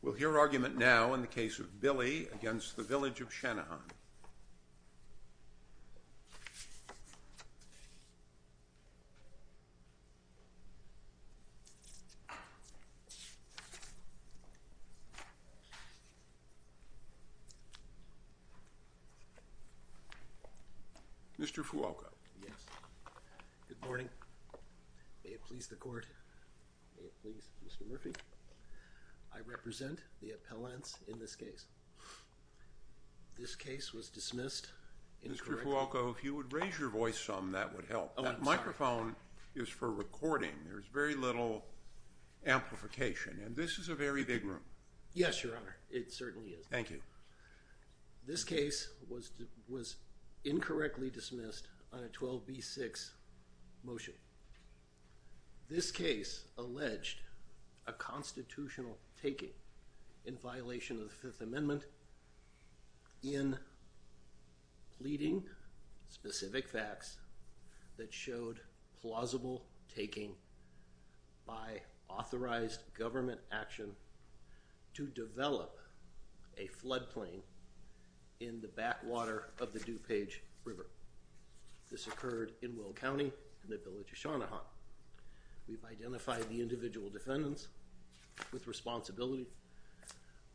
We'll hear argument now in the case of Billie v. Village of Channahon. Mr. Fuoco. Yes. Good morning. May it please the court. May it please Mr. Murphy. I represent the appellants in this case. This case was dismissed incorrectly. Mr. Fuoco, if you would raise your voice some, that would help. That microphone is for recording. There's very little amplification. And this is a very big room. Yes, Your Honor. It certainly is. Thank you. This case was incorrectly dismissed on a 12b-6 motion. This case alleged a constitutional taking in violation of the Fifth Amendment in pleading specific facts that showed plausible taking by authorized government action to develop a floodplain in the backwater of the DuPage River. This occurred in Will County in the Village of Channahon. We've identified the individual defendants with responsibility,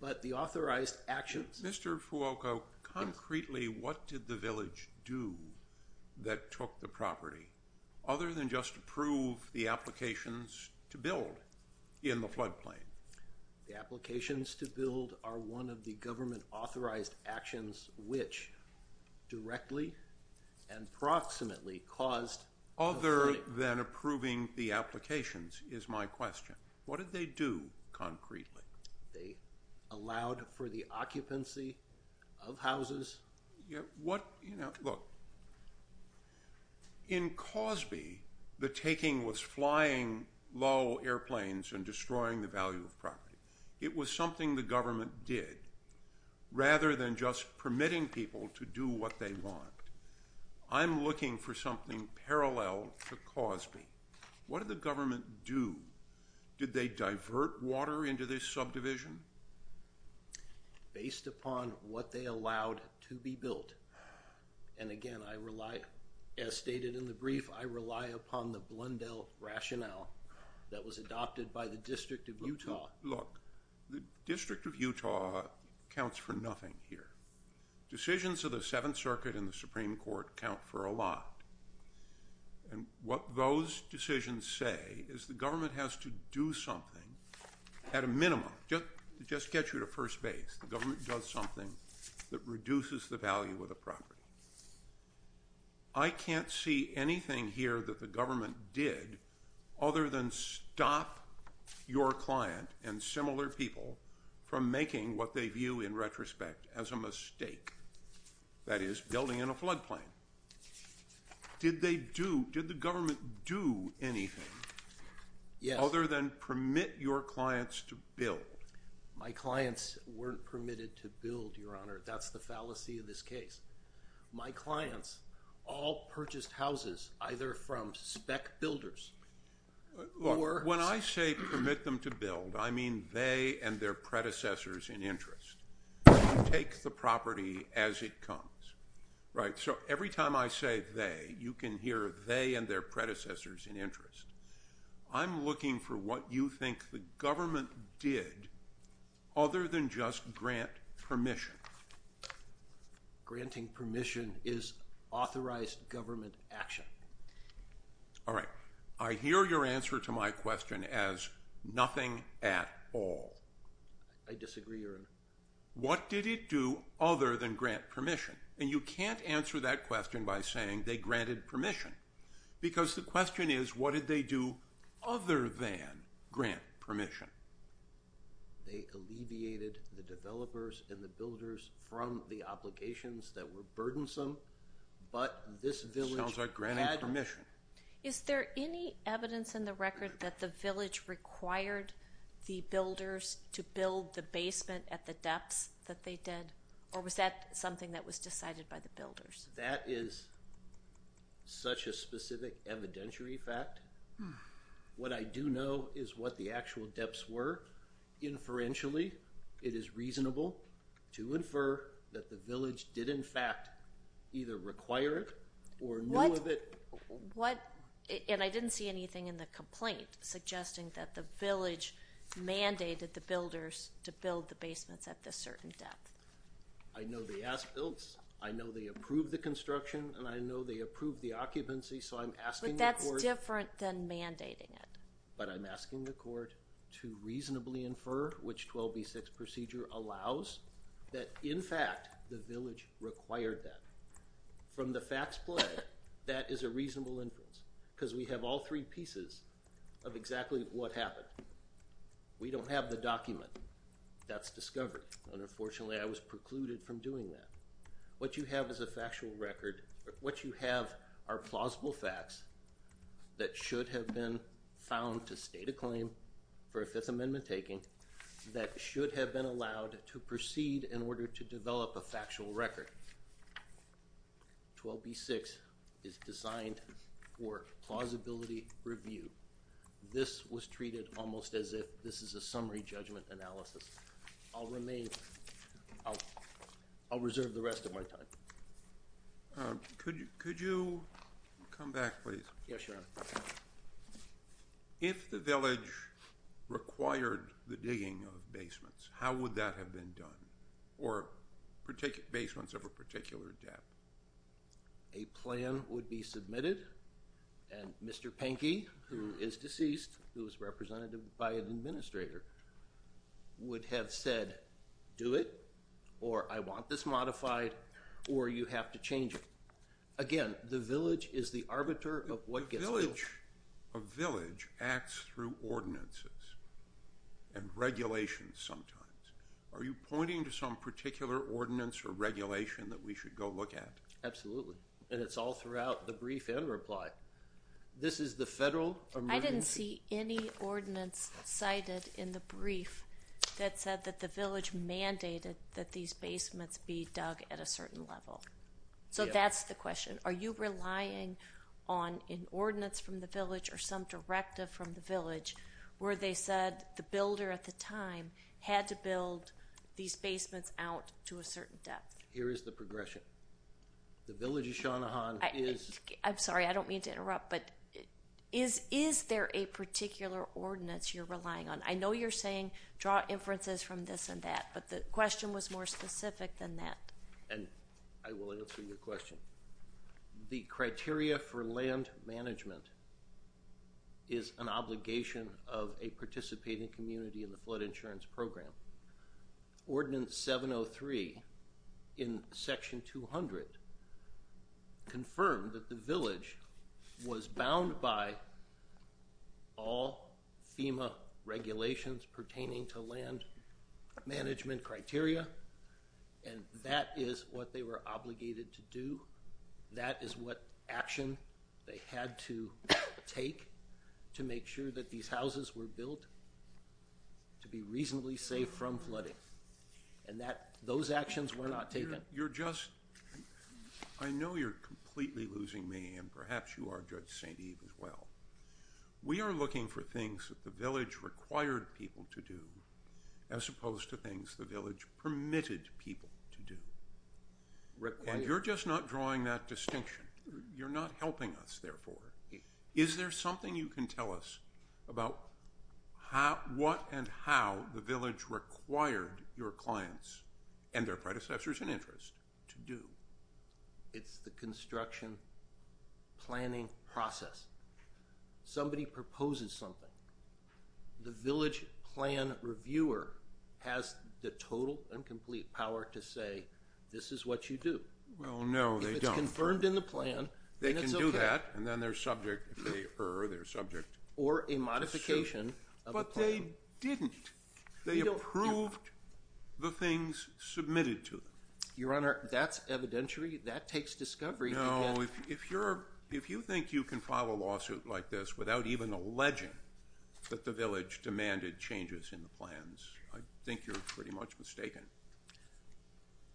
but the authorized actions... Mr. Fuoco, concretely, what did the village do that took the property, other than just approve the applications to build in the floodplain? The applications to build are one of the government authorized actions which directly and approximately caused the flooding. Other than approving the applications is my question. What did they do concretely? They allowed for the occupancy of houses. Look, in Cosby, the taking was flying low airplanes and destroying the value of property. It was something the government did, rather than just permitting people to do what they want. I'm looking for something parallel to Cosby. What did the government do? Did they divert water into this subdivision? Based upon what they allowed to be built, and again, as stated in the brief, I rely upon the Blundell rationale that was adopted by the District of Utah. Look, the District of Utah counts for nothing here. Decisions of the Seventh Circuit and the Supreme Court count for a lot. And what those decisions say is the government has to do something, at a minimum, just to get you to first base. The government does something that reduces the value of the property. I can't see anything here that the government did, other than stop your client and similar people from making what they view in retrospect as a mistake. That is, building in a floodplain. Did the government do anything, other than permit your clients to build? My clients weren't permitted to build, Your Honor. That's the fallacy of this case. My clients all purchased houses, either from spec builders. Look, when I say permit them to build, I mean they and their predecessors in interest. Take the property as it comes. Right, so every time I say they, you can hear they and their predecessors in interest. I'm looking for what you think the government did, other than just grant permission. Granting permission is authorized government action. All right, I hear your answer to my question as nothing at all. I disagree, Your Honor. What did it do, other than grant permission? And you can't answer that question by saying they granted permission. Because the question is, what did they do, other than grant permission? They alleviated the developers and the builders from the obligations that were burdensome. Sounds like granting permission. Is there any evidence in the record that the village required the builders to build the basement at the depths that they did? Or was that something that was decided by the builders? That is such a specific evidentiary fact. What I do know is what the actual depths were. Inferentially, it is reasonable to infer that the village did, in fact, either require it or know of it. What? And I didn't see anything in the complaint suggesting that the village mandated the builders to build the basements at this certain depth. I know they asked built. I know they approved the construction. And I know they approved the occupancy. So I'm asking the court. But that's different than mandating it. But I'm asking the court to reasonably infer which 12b6 procedure allows that, in fact, the village required that. From the facts play, that is a reasonable inference. Because we have all three pieces of exactly what happened. We don't have the document. That's discovery. Unfortunately, I was precluded from doing that. What you have is a factual record. What you have are plausible facts that should have been found to state a claim for a Fifth Amendment taking that should have been allowed to proceed in order to develop a factual record. 12b6 is designed for plausibility review. This was treated almost as if this is a summary judgment analysis. I'll reserve the rest of my time. Could you come back, please? Yes, Your Honor. If the village required the digging of basements, how would that have been done? Or basements of a particular depth? A plan would be submitted. And Mr. Pinky, who is deceased, who is represented by an administrator, would have said, do it, or I want this modified, or you have to change it. Again, the village is the arbiter of what gets built. A village acts through ordinances and regulations sometimes. Are you pointing to some particular ordinance or regulation that we should go look at? Absolutely. And it's all throughout the brief and reply. This is the federal emergency. I didn't see any ordinance cited in the brief that said that the village mandated that these basements be dug at a certain level. So that's the question. Are you relying on an ordinance from the village or some directive from the village where they said the builder at the time had to build these basements out to a certain depth? Here is the progression. The village of Shanahan is... I'm sorry, I don't mean to interrupt, but is there a particular ordinance you're relying on? I know you're saying draw inferences from this and that, but the question was more specific than that. And I will answer your question. The criteria for land management is an obligation of a participating community in the flood insurance program. Ordinance 703 in Section 200 confirmed that the village was bound by all FEMA regulations pertaining to land management criteria. And that is what they were obligated to do. That is what action they had to take to make sure that these houses were built to be reasonably safe from flooding. And those actions were not taken. I know you're completely losing me, and perhaps you are, Judge St. Eve, as well. We are looking for things that the village required people to do as opposed to things the village permitted people to do. And you're just not drawing that distinction. You're not helping us, therefore. Is there something you can tell us about what and how the village required your clients and their predecessors in interest to do? It's the construction planning process. Somebody proposes something. The village plan reviewer has the total and complete power to say, this is what you do. Well, no, they don't. If it's confirmed in the plan, then it's okay. They can do that, and then they're subject if they err, they're subject. Or a modification of the plan. But they didn't. They approved the things submitted to them. Your Honor, that's evidentiary. That takes discovery. If you think you can file a lawsuit like this without even alleging that the village demanded changes in the plans, I think you're pretty much mistaken.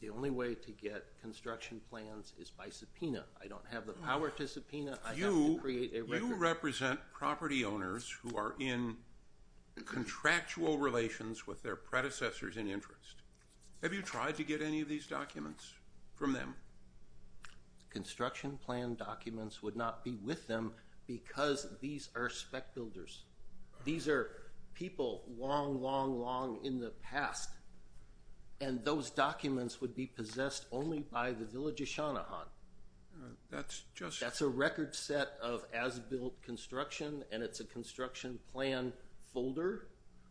The only way to get construction plans is by subpoena. I don't have the power to subpoena. You represent property owners who are in contractual relations with their predecessors in interest. Have you tried to get any of these documents from them? Construction plan documents would not be with them because these are spec builders. These are people long, long, long in the past. And those documents would be possessed only by the village of Shanahan. That's just. That's a record set of as-built construction, and it's a construction plan folder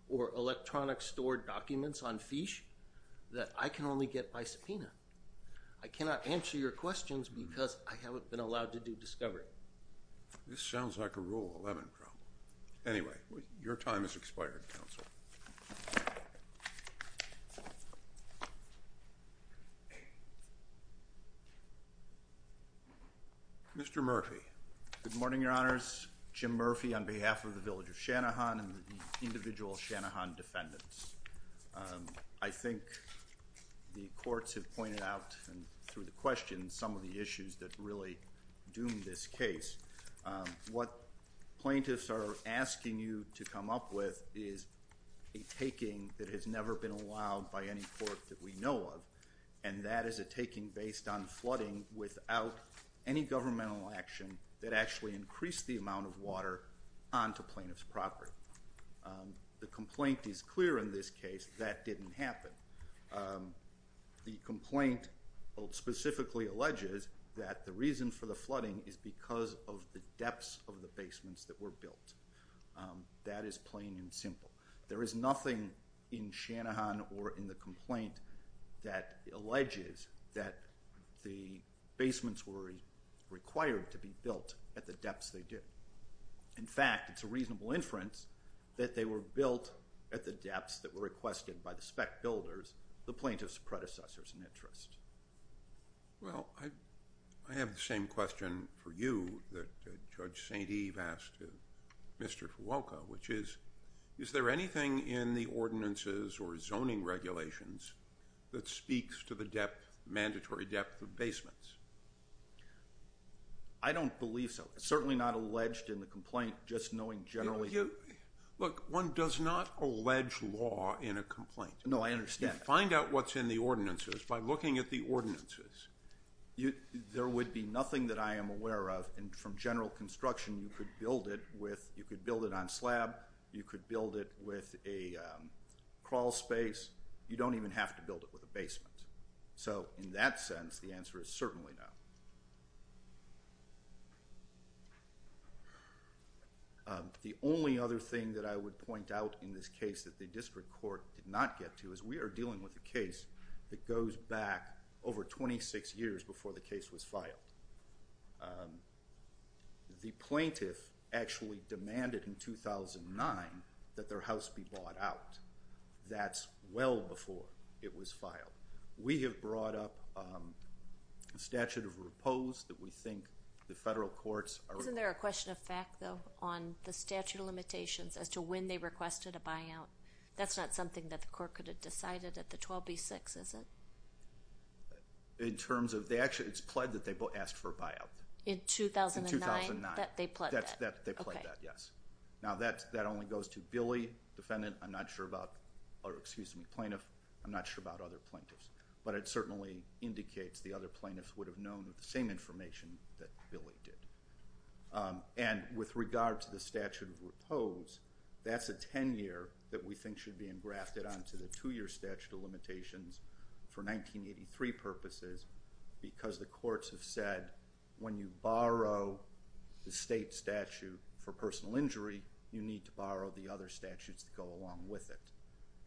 or electronic stored documents on fiche that I can only get by subpoena. I cannot answer your questions because I haven't been allowed to do discovery. This sounds like a Rule 11 problem. Mr. Murphy. Good morning, Your Honors. Jim Murphy on behalf of the village of Shanahan and the individual Shanahan defendants. I think the courts have pointed out through the questions some of the issues that really doomed this case. What plaintiffs are asking you to come up with is a taking that has never been allowed by any court that we know of, and that is a taking based on flooding without any governmental action that actually increased the amount of water onto plaintiff's property. The complaint is clear in this case that didn't happen. The complaint specifically alleges that the reason for the flooding is because of the depths of the basements that were built. That is plain and simple. There is nothing in Shanahan or in the complaint that alleges that the basements were required to be built at the depths they did. In fact, it's a reasonable inference that they were built at the depths that were requested by the spec builders, the plaintiff's predecessors in interest. Well, I have the same question for you that Judge St. Eve asked Mr. Fuoco, which is, is there anything in the ordinances or zoning regulations that speaks to the mandatory depth of basements? I don't believe so. Certainly not alleged in the complaint, just knowing generally. Look, one does not allege law in a complaint. No, I understand. You find out what's in the ordinances by looking at the ordinances. There would be nothing that I am aware of, and from general construction, you could build it on slab. You could build it with a crawl space. You don't even have to build it with a basement. In that sense, the answer is certainly no. The only other thing that I would point out in this case that the district court did not get to is we are dealing with a case that goes back over 26 years before the case was filed. The plaintiff actually demanded in 2009 that their house be bought out. That's well before it was filed. We have brought up a statute of repose that we think the federal courts are— Isn't there a question of fact, though, on the statute of limitations as to when they requested a buyout? That's not something that the court could have decided at the 12B-6, is it? In terms of—actually, it's pled that they asked for a buyout. In 2009? In 2009. They pled that? They pled that, yes. Now, that only goes to Billy, defendant. I'm not sure about—or, excuse me, plaintiff. I'm not sure about other plaintiffs. But it certainly indicates the other plaintiffs would have known the same information that Billy did. And with regard to the statute of repose, that's a 10-year that we think should be engrafted onto the two-year statute of limitations for 1983 purposes because the courts have said when you borrow the state statute for personal injury, you need to borrow the other statutes that go along with it.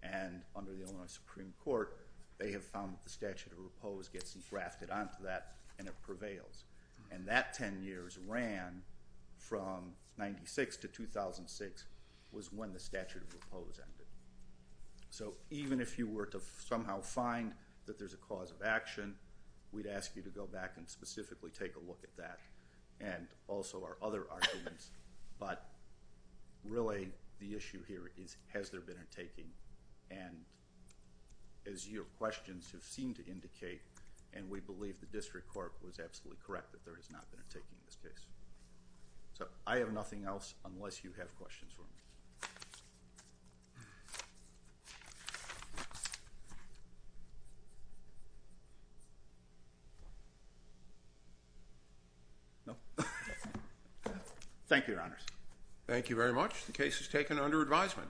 And under the Illinois Supreme Court, they have found that the statute of repose gets engrafted onto that and it prevails. And that 10 years ran from 1996 to 2006 was when the statute of repose ended. So, even if you were to somehow find that there's a cause of action, we'd ask you to go back and specifically take a look at that and also our other arguments. But really, the issue here is, has there been a taking? And as your questions have seemed to indicate, and we believe the district court was absolutely correct that there has not been a taking in this case. So, I have nothing else unless you have questions for me. Thank you. Thank you, Your Honors. Thank you very much. The case is taken under advisement.